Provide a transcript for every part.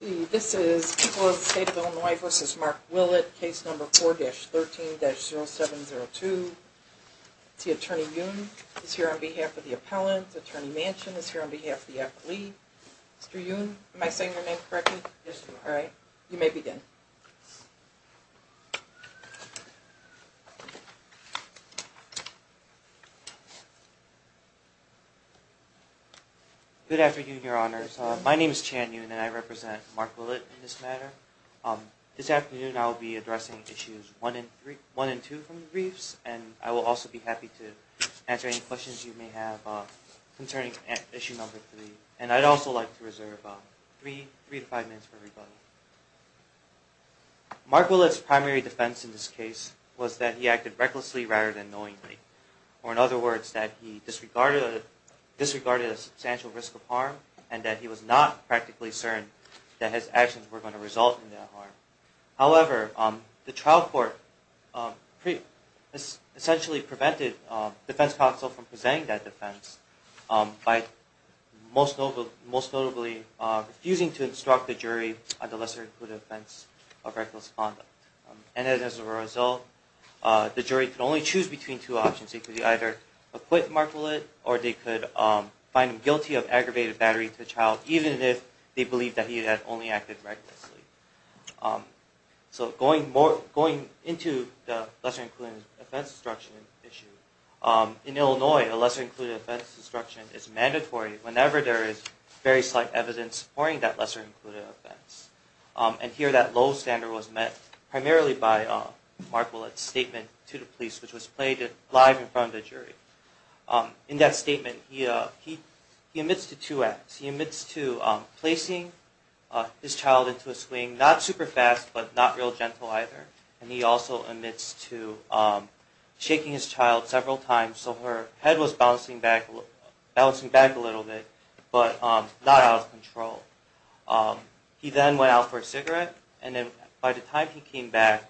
This is People of the State of Illinois v. Mark Willett, Case No. 4-13-0702. Attorney Yoon is here on behalf of the appellant. Attorney Manchin is here on behalf of the appellee. Mr. Yoon, am I saying your name correctly? Yes, you are. Alright, you may begin. Good afternoon, Your Honors. My name is Chan Yoon, and I represent Mark Willett in this matter. This afternoon, I will be addressing Issues 1 and 2 from the briefs, and I will also be happy to answer any questions you may have concerning Issue No. 3. And I'd also like to reserve three to five minutes for everybody. Mark Willett's primary defense in this case was that he acted recklessly rather than knowingly, or in other words, that he disregarded a substantial risk of harm and that he was not practically certain that his actions were going to result in that harm. However, the trial court essentially prevented the defense counsel from presenting that defense by most notably refusing to instruct the jury on the lesser good offense of reckless conduct. And as a result, the jury could only choose between two options. They could either acquit Mark Willett, or they could find him guilty of aggravated battery to the child, even if they believed that he had only acted recklessly. So going into the lesser-included offense instruction issue, in Illinois, a lesser-included offense instruction is mandatory whenever there is very slight evidence supporting that lesser-included offense. And here that low standard was met primarily by Mark Willett's statement to the police, which was played live in front of the jury. In that statement, he admits to two acts. He admits to placing his child into a swing, not super fast, but not real gentle either. And he also admits to shaking his child several times so her head was bouncing back a little bit, but not out of control. He then went out for a cigarette, and then by the time he came back,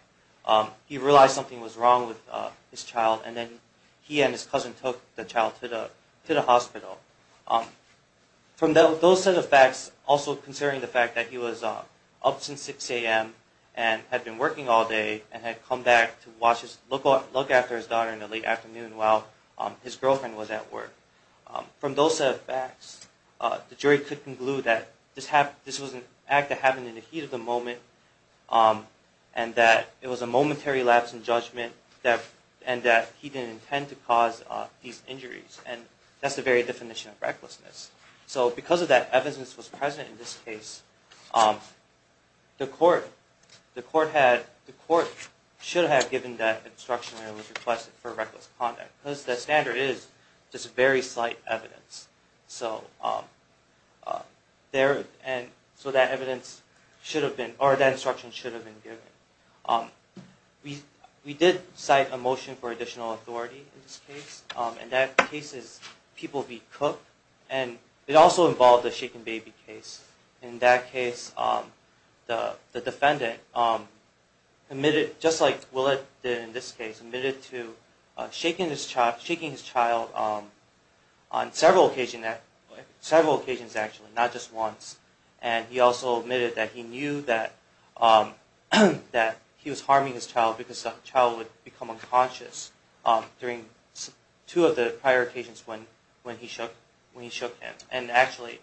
he realized something was wrong with his child, and then he and his cousin took the child to the hospital. From those set of facts, also considering the fact that he was up since 6 a.m. and had been working all day and had come back to look after his daughter in the late afternoon while his girlfriend was at work. From those set of facts, the jury could conclude that this was an act that happened in the heat of the moment and that it was a momentary lapse in judgment and that he didn't intend to cause these injuries. And that's the very definition of recklessness. So because of that, evidence was present in this case. The court should have given that instruction when it was requested for reckless conduct because the standard is just very slight evidence. So that evidence should have been, or that instruction should have been given. We did cite a motion for additional authority in this case. In that case, people be cooked, and it also involved a shaken baby case. In that case, the defendant, just like Willett did in this case, admitted to shaking his child on several occasions actually, not just once. And he also admitted that he knew that he was harming his child because the child would become unconscious during two of the prior occasions when he shook him. And actually,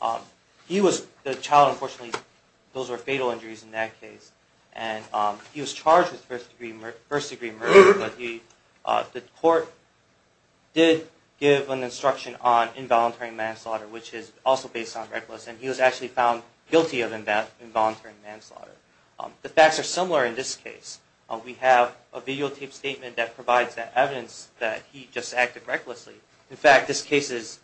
the child, unfortunately, those were fatal injuries in that case. And he was charged with first-degree murder. But the court did give an instruction on involuntary manslaughter, which is also based on reckless. And he was actually found guilty of involuntary manslaughter. The facts are similar in this case. We have a videotaped statement that provides that evidence that he just acted recklessly. In fact, this case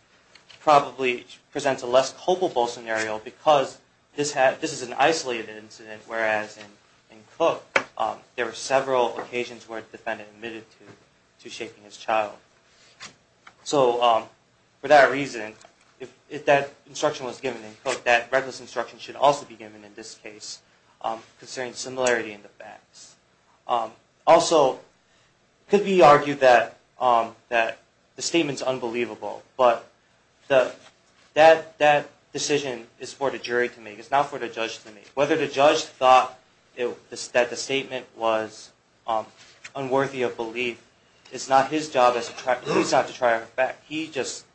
probably presents a less culpable scenario because this is an isolated incident, whereas in Cook, there were several occasions where the defendant admitted to shaking his child. So for that reason, if that instruction was given in Cook, that reckless instruction should also be given in this case, considering similarity in the facts. Also, it could be argued that the statement is unbelievable, but that decision is for the jury to make. It's not for the judge to make. Whether the judge thought that the statement was unworthy of belief is not his job. It's not his job to try and affect. He just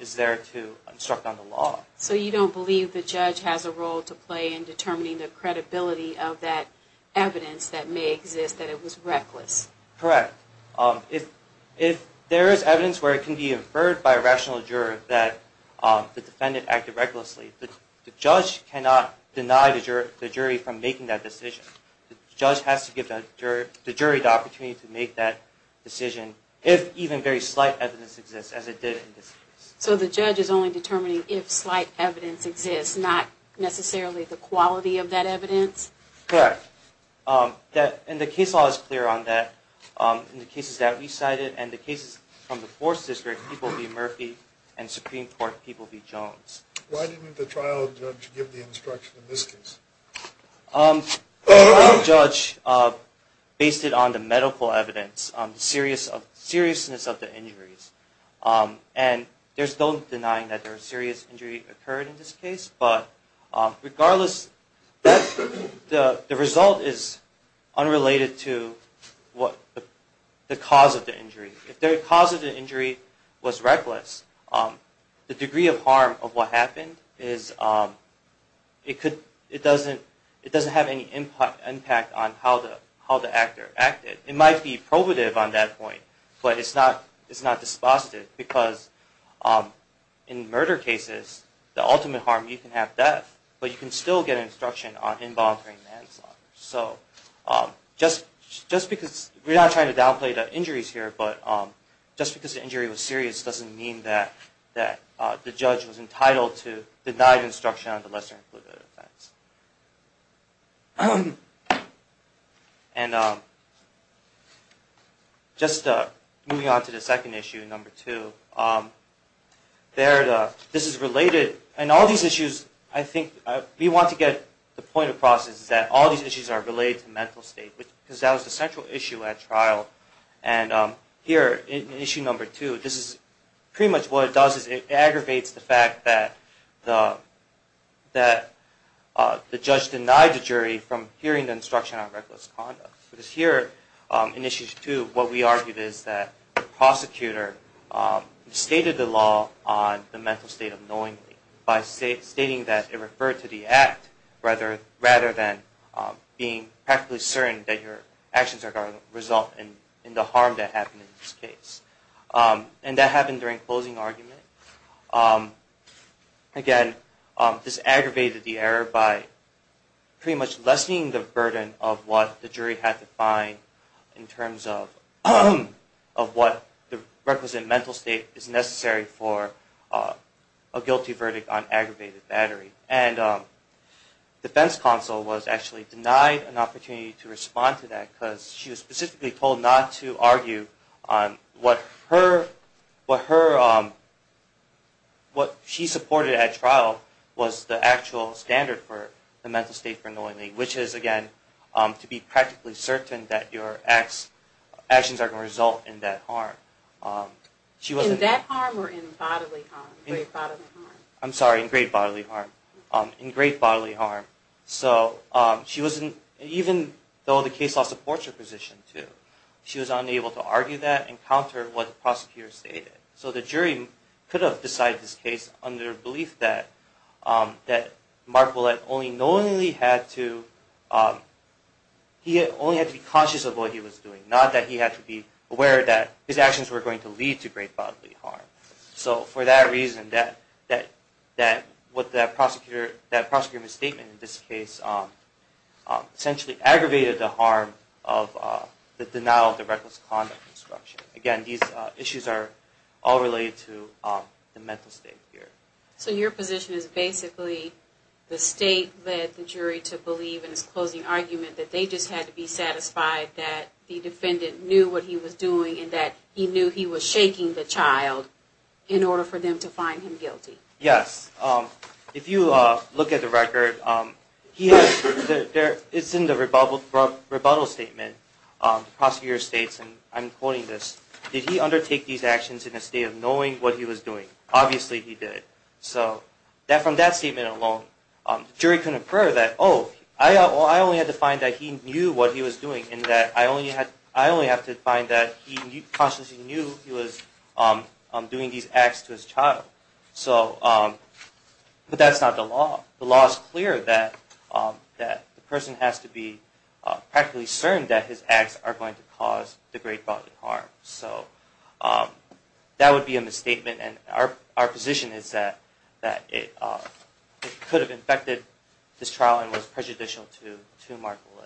is there to instruct on the law. So you don't believe the judge has a role to play in determining the credibility of that evidence that may exist, that it was reckless? Correct. If there is evidence where it can be inferred by a rational juror that the defendant acted recklessly, the judge cannot deny the jury from making that decision. The judge has to give the jury the opportunity to make that decision, if even very slight evidence exists, as it did in this case. So the judge is only determining if slight evidence exists, not necessarily the quality of that evidence? Correct. And the case law is clear on that. In the cases that we cited and the cases from the 4th District, people be Murphy, and Supreme Court people be Jones. Why didn't the trial judge give the instruction in this case? The trial judge based it on the medical evidence, the seriousness of the injuries. And there's no denying that there was serious injury occurred in this case, but regardless, the result is unrelated to the cause of the injury. If the cause of the injury was reckless, the degree of harm of what happened, it doesn't have any impact on how the actor acted. It might be probative on that point, but it's not dispositive, because in murder cases, the ultimate harm, you can have death, but you can still get instruction on involuntary manslaughter. We're not trying to downplay the injuries here, but just because the injury was serious doesn't mean that the judge was entitled to Just moving on to the second issue, number two. This is related, and all these issues, I think, we want to get the point across, is that all these issues are related to mental state, because that was the central issue at trial. And here, in issue number two, this is pretty much what it does, is it aggravates the fact that the judge denied the jury from hearing the instruction on reckless conduct. Because here, in issue two, what we argued is that the prosecutor stated the law on the mental state of knowingly, by stating that it referred to the act, rather than being practically certain that your actions are going to result in the harm that happened in this case. And that happened during closing argument. Again, this aggravated the error by pretty much lessening the burden of what the jury had to find in terms of what the requisite mental state is necessary for a guilty verdict on aggravated battery. And defense counsel was actually denied an opportunity to respond to that, because she was specifically told not to argue on what she supported at trial was the actual standard for the mental state for knowingly, which is, again, to be practically certain that your actions are going to result in that harm. In that harm, or in bodily harm? I'm sorry, in great bodily harm. In great bodily harm. Even though the case law supports her position, she was unable to argue that and counter what the prosecutor stated. So the jury could have decided this case under the belief that Mark Willett only knowingly had to be conscious of what he was doing, not that he had to be aware that his actions were going to lead to great bodily harm. So for that reason, that prosecutor misstatement in this case essentially aggravated the harm of the denial of the reckless conduct instruction. Again, these issues are all related to the mental state here. So your position is basically the state led the jury to believe in this closing argument that they just had to be satisfied that the defendant knew what he was doing and that he knew he was shaking the child in order for them to find him guilty. Yes. If you look at the record, it's in the rebuttal statement. The prosecutor states, and I'm quoting this, did he undertake these actions in a state of knowing what he was doing? Obviously he did. So from that statement alone, the jury couldn't infer that, no, I only had to find that he knew what he was doing, and that I only have to find that he consciously knew he was doing these acts to his child. But that's not the law. The law is clear that the person has to be practically certain that his acts are going to cause the great bodily harm. So that would be a misstatement, and our position is that it could have infected this trial and was prejudicial to Mark Lillet.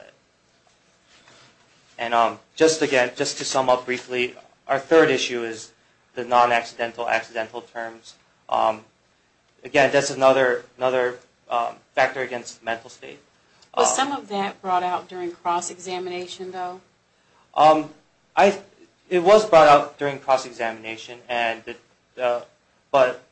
And just again, just to sum up briefly, our third issue is the non-accidental, accidental terms. Again, that's another factor against the mental state. Was some of that brought out during cross-examination though? It was brought out during cross-examination, but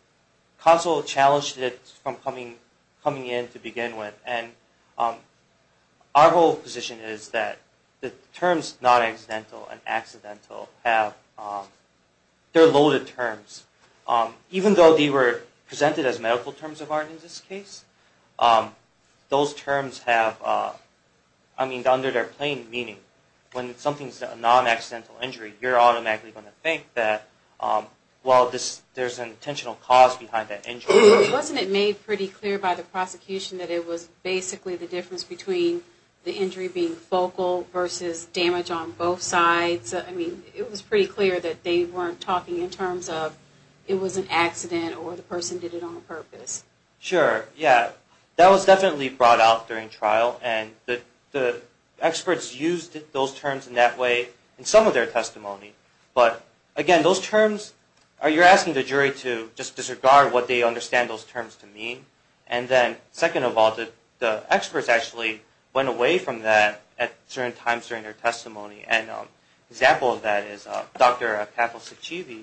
counsel challenged it from coming in to begin with, and our whole position is that the terms non-accidental and accidental are loaded terms. Even though they were presented as medical terms of art in this case, those terms have, I mean, under their plain meaning, when something's a non-accidental injury, you're automatically going to think that, well, there's an intentional cause behind that injury. Wasn't it made pretty clear by the prosecution that it was basically the difference between the injury being focal versus damage on both sides? I mean, it was pretty clear that they weren't talking in terms of it was an accident or the person did it on purpose. Sure, yeah. That was definitely brought out during trial, and the experts used those terms in that way in some of their testimony. But again, those terms, you're asking the jury to just disregard what they understand those terms to mean, and then second of all, the experts actually went away from that at certain times during their testimony. An example of that is Dr. Kapil Sachivy.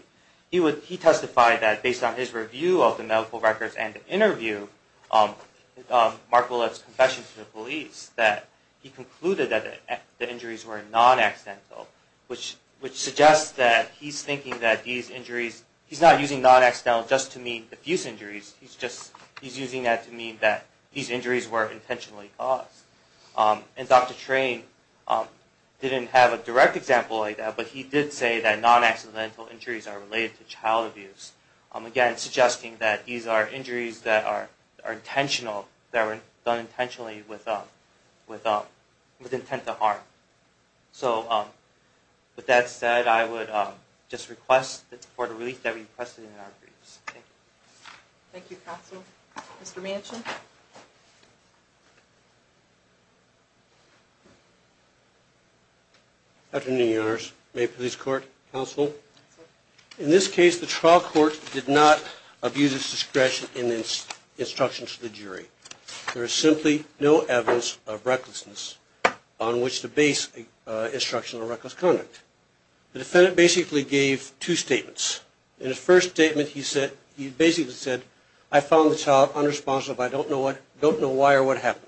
He testified that based on his review of the medical records and the interview, Mark Willett's confession to the police, that he concluded that the injuries were non-accidental, which suggests that he's thinking that these injuries, he's not using non-accidental just to mean diffuse injuries, he's using that to mean that these injuries were intentionally caused. And Dr. Train didn't have a direct example like that, but he did say that non-accidental injuries are related to child abuse. Again, suggesting that these are injuries that are intentional, that were done intentionally with intent to harm. So with that said, I would just request for the release that we requested in our briefs. Thank you. Thank you, counsel. Mr. Manchin? Afternoon, Your Honors. Maine Police Court, counsel. In this case, the trial court did not abuse its discretion in its instructions to the jury. There is simply no evidence of recklessness on which to base instructional reckless conduct. The defendant basically gave two statements. In his first statement, he basically said, I found the child unresponsive. I don't know why or what happened.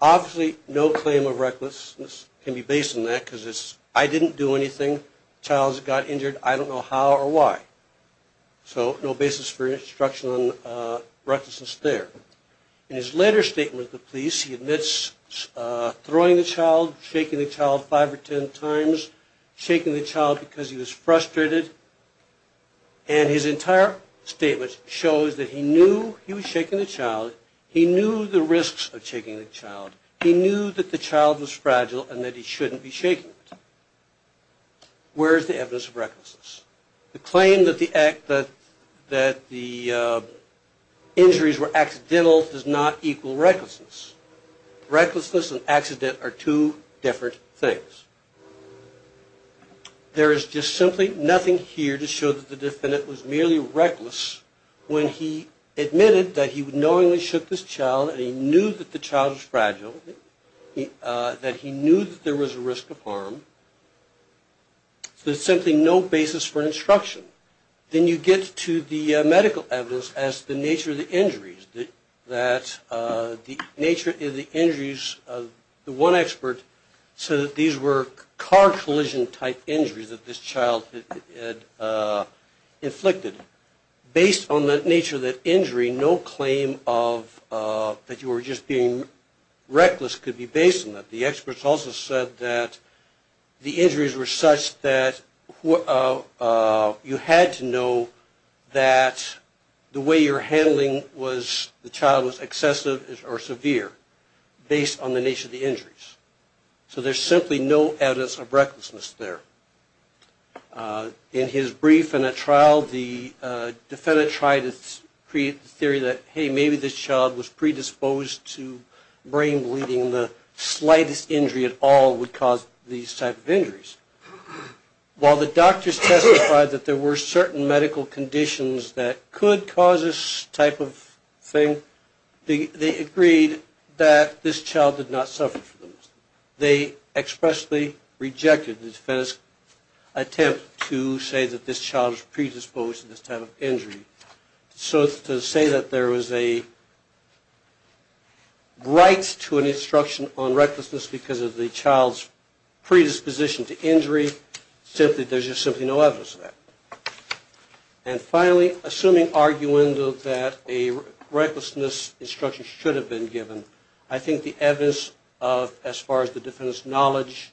Obviously, no claim of recklessness can be based on that because it's, I didn't do anything. The child got injured. I don't know how or why. So no basis for instruction on recklessness there. In his later statement to the police, he admits throwing the child, shaking the child five or ten times, shaking the child because he was frustrated. And his entire statement shows that he knew he was shaking the child. He knew the risks of shaking the child. He knew that the child was fragile and that he shouldn't be shaking it. Where is the evidence of recklessness? The claim that the injuries were accidental does not equal recklessness. Recklessness and accident are two different things. There is just simply nothing here to show that the defendant was merely reckless when he admitted that he knowingly shook this child and he knew that the child was fragile, that he knew that there was a risk of harm. So there's simply no basis for instruction. Then you get to the medical evidence as to the nature of the injuries, that the nature of the injuries, the one expert said that these were car collision type injuries that this child had inflicted. Based on the nature of that injury, no claim of, that you were just being reckless could be based on that. The experts also said that the injuries were such that you had to know that the way you were handling the child was excessive or severe based on the nature of the injuries. So there's simply no evidence of recklessness there. In his brief in a trial, the defendant tried to create the theory that, hey, maybe this child was predisposed to brain bleeding, the slightest injury at all would cause these type of injuries. While the doctors testified that there were certain medical conditions that could cause this type of thing, they agreed that this child did not suffer from those. They expressly rejected the defendant's attempt to say that this child was predisposed to this type of injury. So to say that there was a right to an instruction on recklessness because of the child's predisposition to injury, there's just simply no evidence of that. And finally, assuming argument that a recklessness instruction should have been given, I think the evidence as far as the defendant's knowledge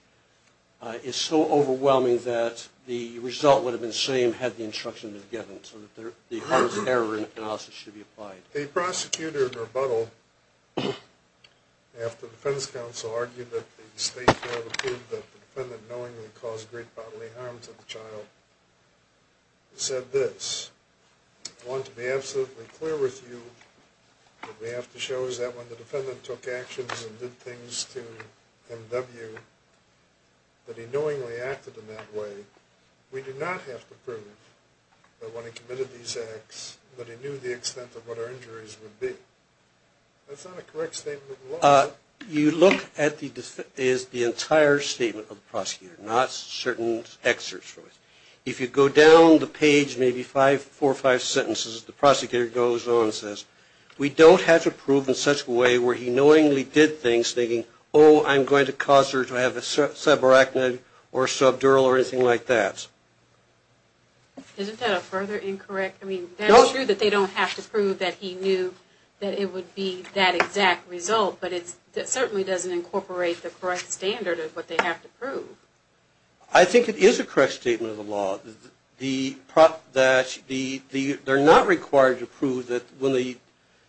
is so overwhelming that the result would have been the same if you had the instruction given so that the hardest error in analysis should be applied. The prosecutor in rebuttal, after the defense counsel argued that the state failed to prove that the defendant knowingly caused great bodily harm to the child, said this, I want to be absolutely clear with you that we have to show that when the defendant took actions and did things to M.W. that he knowingly acted in that way, we do not have to prove that when he committed these acts that he knew the extent of what our injuries would be. That's not a correct statement of the law, is it? You look at the entire statement of the prosecutor, not certain excerpts from it. If you go down the page, maybe four or five sentences, the prosecutor goes on and says, we don't have to prove in such a way where he knowingly did things thinking, oh, I'm going to cause her to have a subarachnoid or subdural or anything like that. Isn't that a further incorrect? I mean, that's true that they don't have to prove that he knew that it would be that exact result, but it certainly doesn't incorporate the correct standard of what they have to prove. I think it is a correct statement of the law. They're not required to prove that when the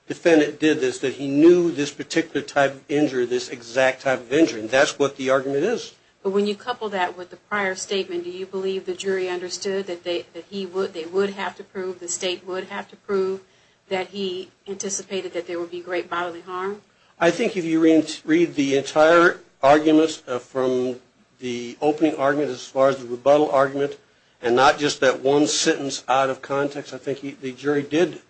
defendant did this, that he knew this particular type of injury, this exact type of injury. That's what the argument is. But when you couple that with the prior statement, do you believe the jury understood that they would have to prove, the state would have to prove that he anticipated that there would be great bodily harm? I think if you read the entire argument from the opening argument as far as the rebuttal argument and not just that one sentence out of context, I think the jury did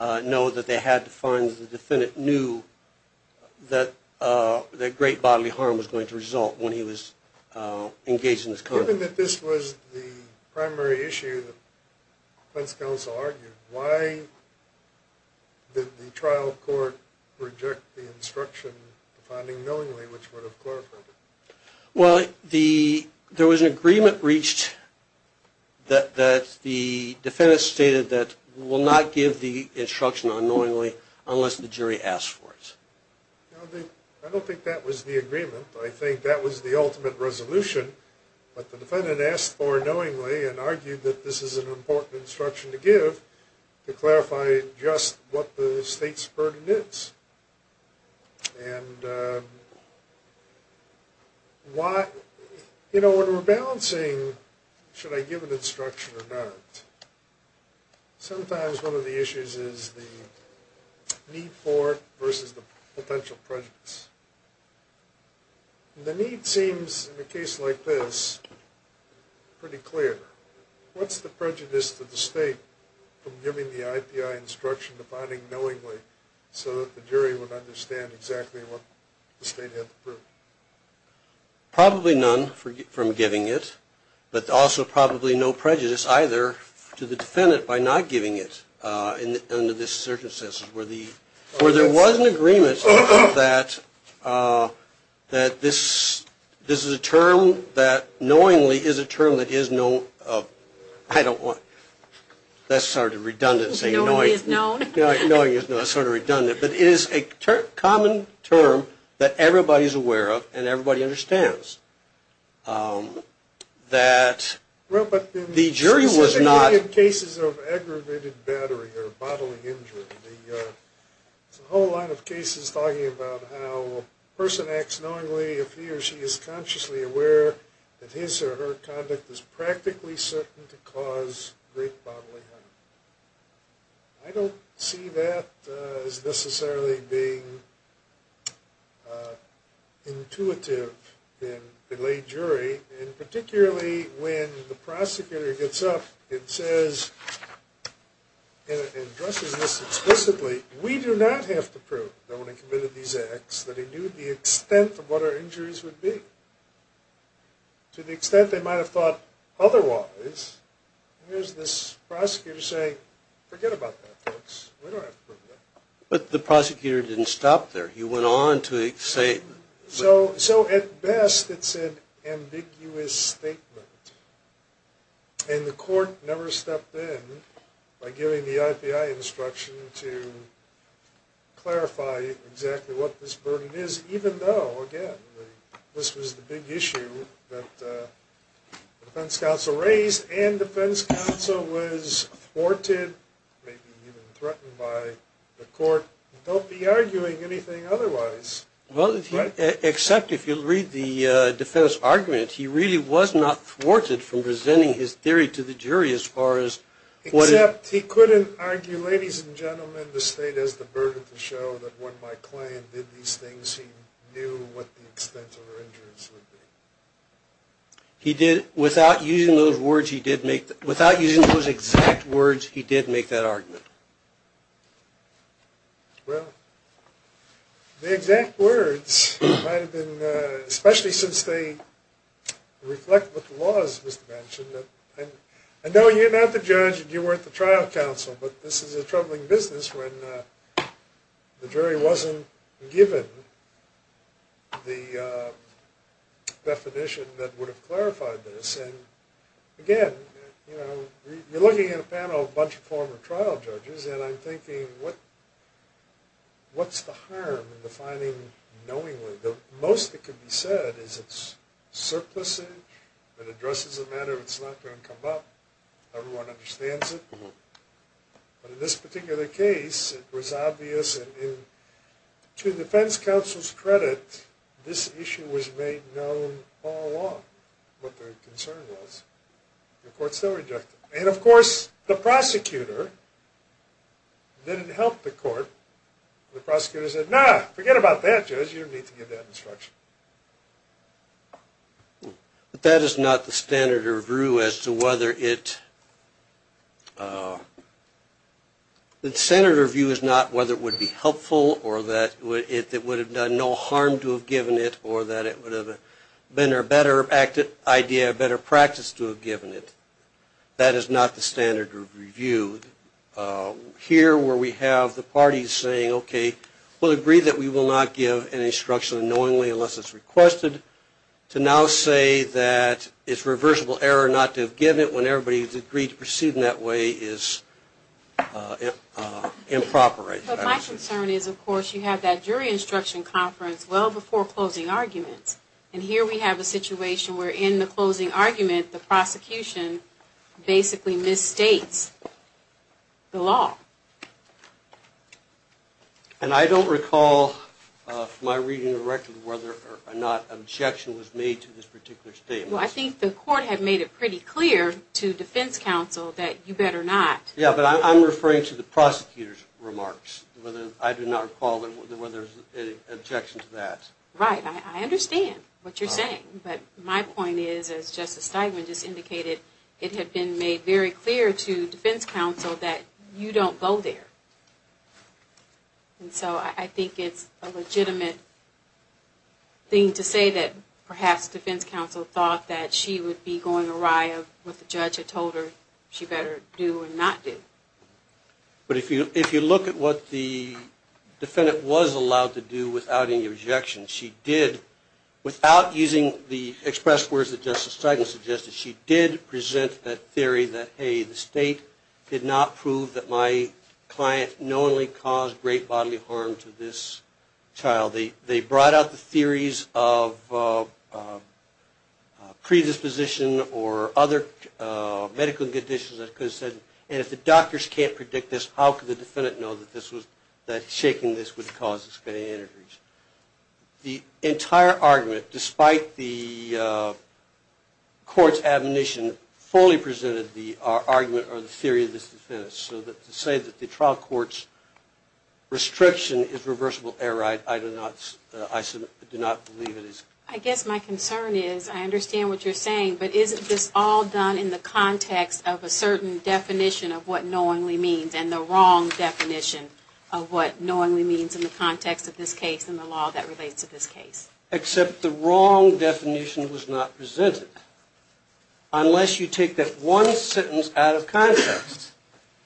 know that they had to find that the defendant knew that great bodily harm was going to result when he was engaged in this conduct. Given that this was the primary issue that the defense counsel argued, why did the trial court reject the instruction, the finding knowingly, which would have clarified it? Well, there was an agreement reached that the defendant stated that we will not give the instruction unknowingly unless the jury asks for it. I don't think that was the agreement. I think that was the ultimate resolution. But the defendant asked for it knowingly and argued that this is an important instruction to give to clarify just what the state's burden is. And, you know, when we're balancing should I give an instruction or not, sometimes one of the issues is the need for it versus the potential prejudice. The need seems, in a case like this, pretty clear. What's the prejudice to the state from giving the IPI instruction, the finding knowingly, so that the jury would understand exactly what the state had to prove? Probably none from giving it, but also probably no prejudice either to the defendant by not giving it under this circumstance, where there was an agreement that this is a term that knowingly is a term that is known. I don't want that sort of redundancy. Knowingly is known? Knowingly is known. It's sort of redundant. But it is a common term that everybody's aware of and everybody understands that the jury was not. Well, but in cases of aggravated battery or bodily injury, there's a whole lot of cases talking about how a person acts knowingly if he or she is consciously aware that his or her conduct is practically certain to cause great bodily harm. I don't see that as necessarily being intuitive in a lay jury, and particularly when the prosecutor gets up and says, and addressing this explicitly, we do not have to prove that when I committed these acts that I knew the extent of what our injuries would be. To the extent they might have thought otherwise, here's this prosecutor saying, forget about that, folks. We don't have to prove that. But the prosecutor didn't stop there. He went on to say. So at best, it's an ambiguous statement, and the court never stepped in by giving the IPI instruction to clarify exactly what this burden is, even though, again, this was the big issue that the defense counsel raised, and the defense counsel was thwarted, maybe even threatened by the court, don't be arguing anything otherwise. Well, except if you read the defense argument, he really was not thwarted from presenting his theory to the jury as far as what he. Except he couldn't argue, ladies and gentlemen, the state has the burden to show that when my client did these things, he knew what the extent of her injuries would be. He did. Without using those exact words, he did make that argument. Well, the exact words might have been, especially since they reflect what the law is, I know you're not the judge and you weren't the trial counsel, but this is a troubling business when the jury wasn't given the definition that would have clarified this. And, again, you're looking at a panel of a bunch of former trial judges, and I'm thinking, what's the harm in defining knowingly? The most that can be said is it's surplusage, that addresses a matter that's not going to come up. Everyone understands it. But in this particular case, it was obvious, and to defense counsel's credit, this issue was made known all along. But the concern was the court still rejected it. And, of course, the prosecutor didn't help the court. The prosecutor said, nah, forget about that, judge, you don't need to give that instruction. But that is not the standard of review as to whether it, the standard of review is not whether it would be helpful, or that it would have done no harm to have given it, or that it would have been a better idea, a better practice to have given it. That is not the standard of review. Here, where we have the parties saying, okay, we'll agree that we will not give an instruction knowingly unless it's requested, to now say that it's reversible error not to have given it when everybody has agreed to proceed in that way is improper. But my concern is, of course, you have that jury instruction conference well before closing arguments, and here we have a situation where in the closing argument the prosecution basically misstates the law. And I don't recall from my reading of the record whether or not objection was made to this particular statement. Well, I think the court had made it pretty clear to defense counsel that you better not. Yeah, but I'm referring to the prosecutor's remarks. I do not recall whether there was an objection to that. Right. I understand what you're saying. But my point is, as Justice Steinman just indicated, it had been made very clear to defense counsel that you don't go there. And so I think it's a legitimate thing to say that perhaps defense counsel thought that she would be going awry with what the judge had told her she better do or not do. But if you look at what the defendant was allowed to do without any objection, she did, without using the express words that Justice Steinman suggested, she did present that theory that, hey, the state did not prove that my client knowingly caused great bodily harm to this child. They brought out the theories of predisposition or other medical conditions that could have said, and if the doctors can't predict this, how could the defendant know that shaking this would cause this. The entire argument, despite the court's admonition, fully presented the argument or the theory of this defense. So to say that the trial court's restriction is reversible error, I do not believe it is. I guess my concern is, I understand what you're saying, but isn't this all done in the context of a certain definition of what knowingly means and the wrong definition of what knowingly means in the context of this case and the law that relates to this case? Except the wrong definition was not presented. Unless you take that one sentence out of context,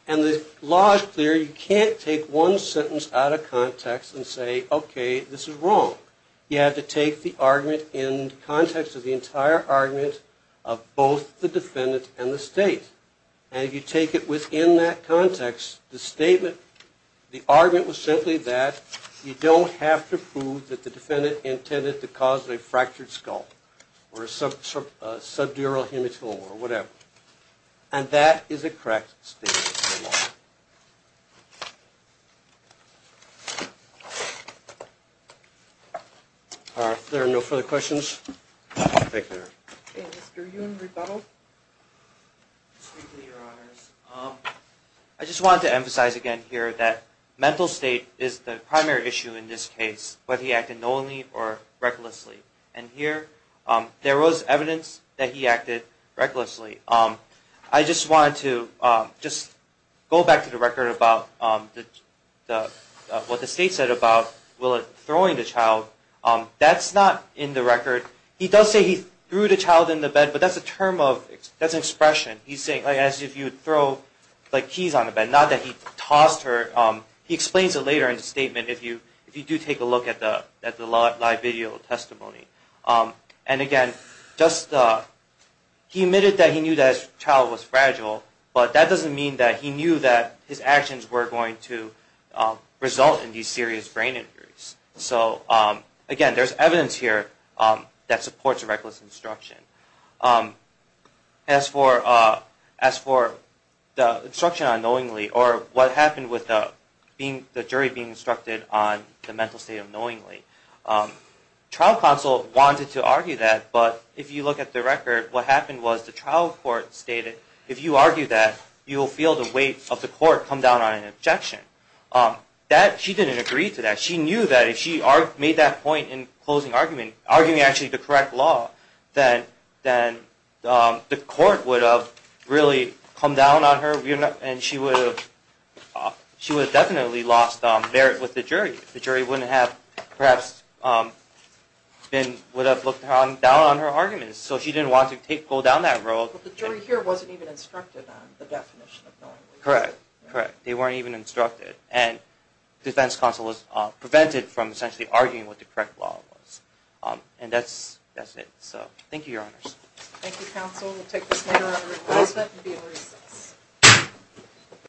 and the law is clear, you can't take one sentence out of context and say, okay, this is wrong. You have to take the argument in context of the entire argument of both the defendant and the state. And if you take it within that context, the statement, the argument was simply that you don't have to prove that the defendant intended to cause a fractured skull or a subdural hematoma or whatever. And that is a correct statement of the law. Are there no further questions? Mr. Yoon, rebuttal? I just wanted to emphasize again here that mental state is the primary issue in this case, whether he acted knowingly or recklessly. And here, there was evidence that he acted recklessly. I just wanted to go back to the record about what the state said about throwing the child. That's not in the record. He does say he threw the child in the bed, but that's an expression. He's saying as if you would throw keys on the bed, not that he tossed her. He explains it later in the statement if you do take a look at the live video testimony. And again, he admitted that he knew that his child was fragile, but that doesn't mean that he knew that his actions were going to result in these serious brain injuries. So again, there's evidence here that supports reckless instruction. As for the instruction on knowingly or what happened with the jury being instructed on the mental state of knowingly, trial counsel wanted to argue that, but if you look at the record, what happened was the trial court stated if you argue that, you will feel the weight of the court come down on an objection. She didn't agree to that. She knew that if she made that point in closing argument, arguing actually the correct law, then the court would have really come down on her, and she would have definitely lost merit with the jury. The jury would have looked down on her arguments, so she didn't want to go down that road. But the jury here wasn't even instructed on the definition of knowingly. Correct. Correct. They weren't even instructed, and defense counsel was prevented from essentially arguing what the correct law was. And that's it. So thank you, Your Honors. Thank you, counsel. We'll take this matter under reclusement and be at recess.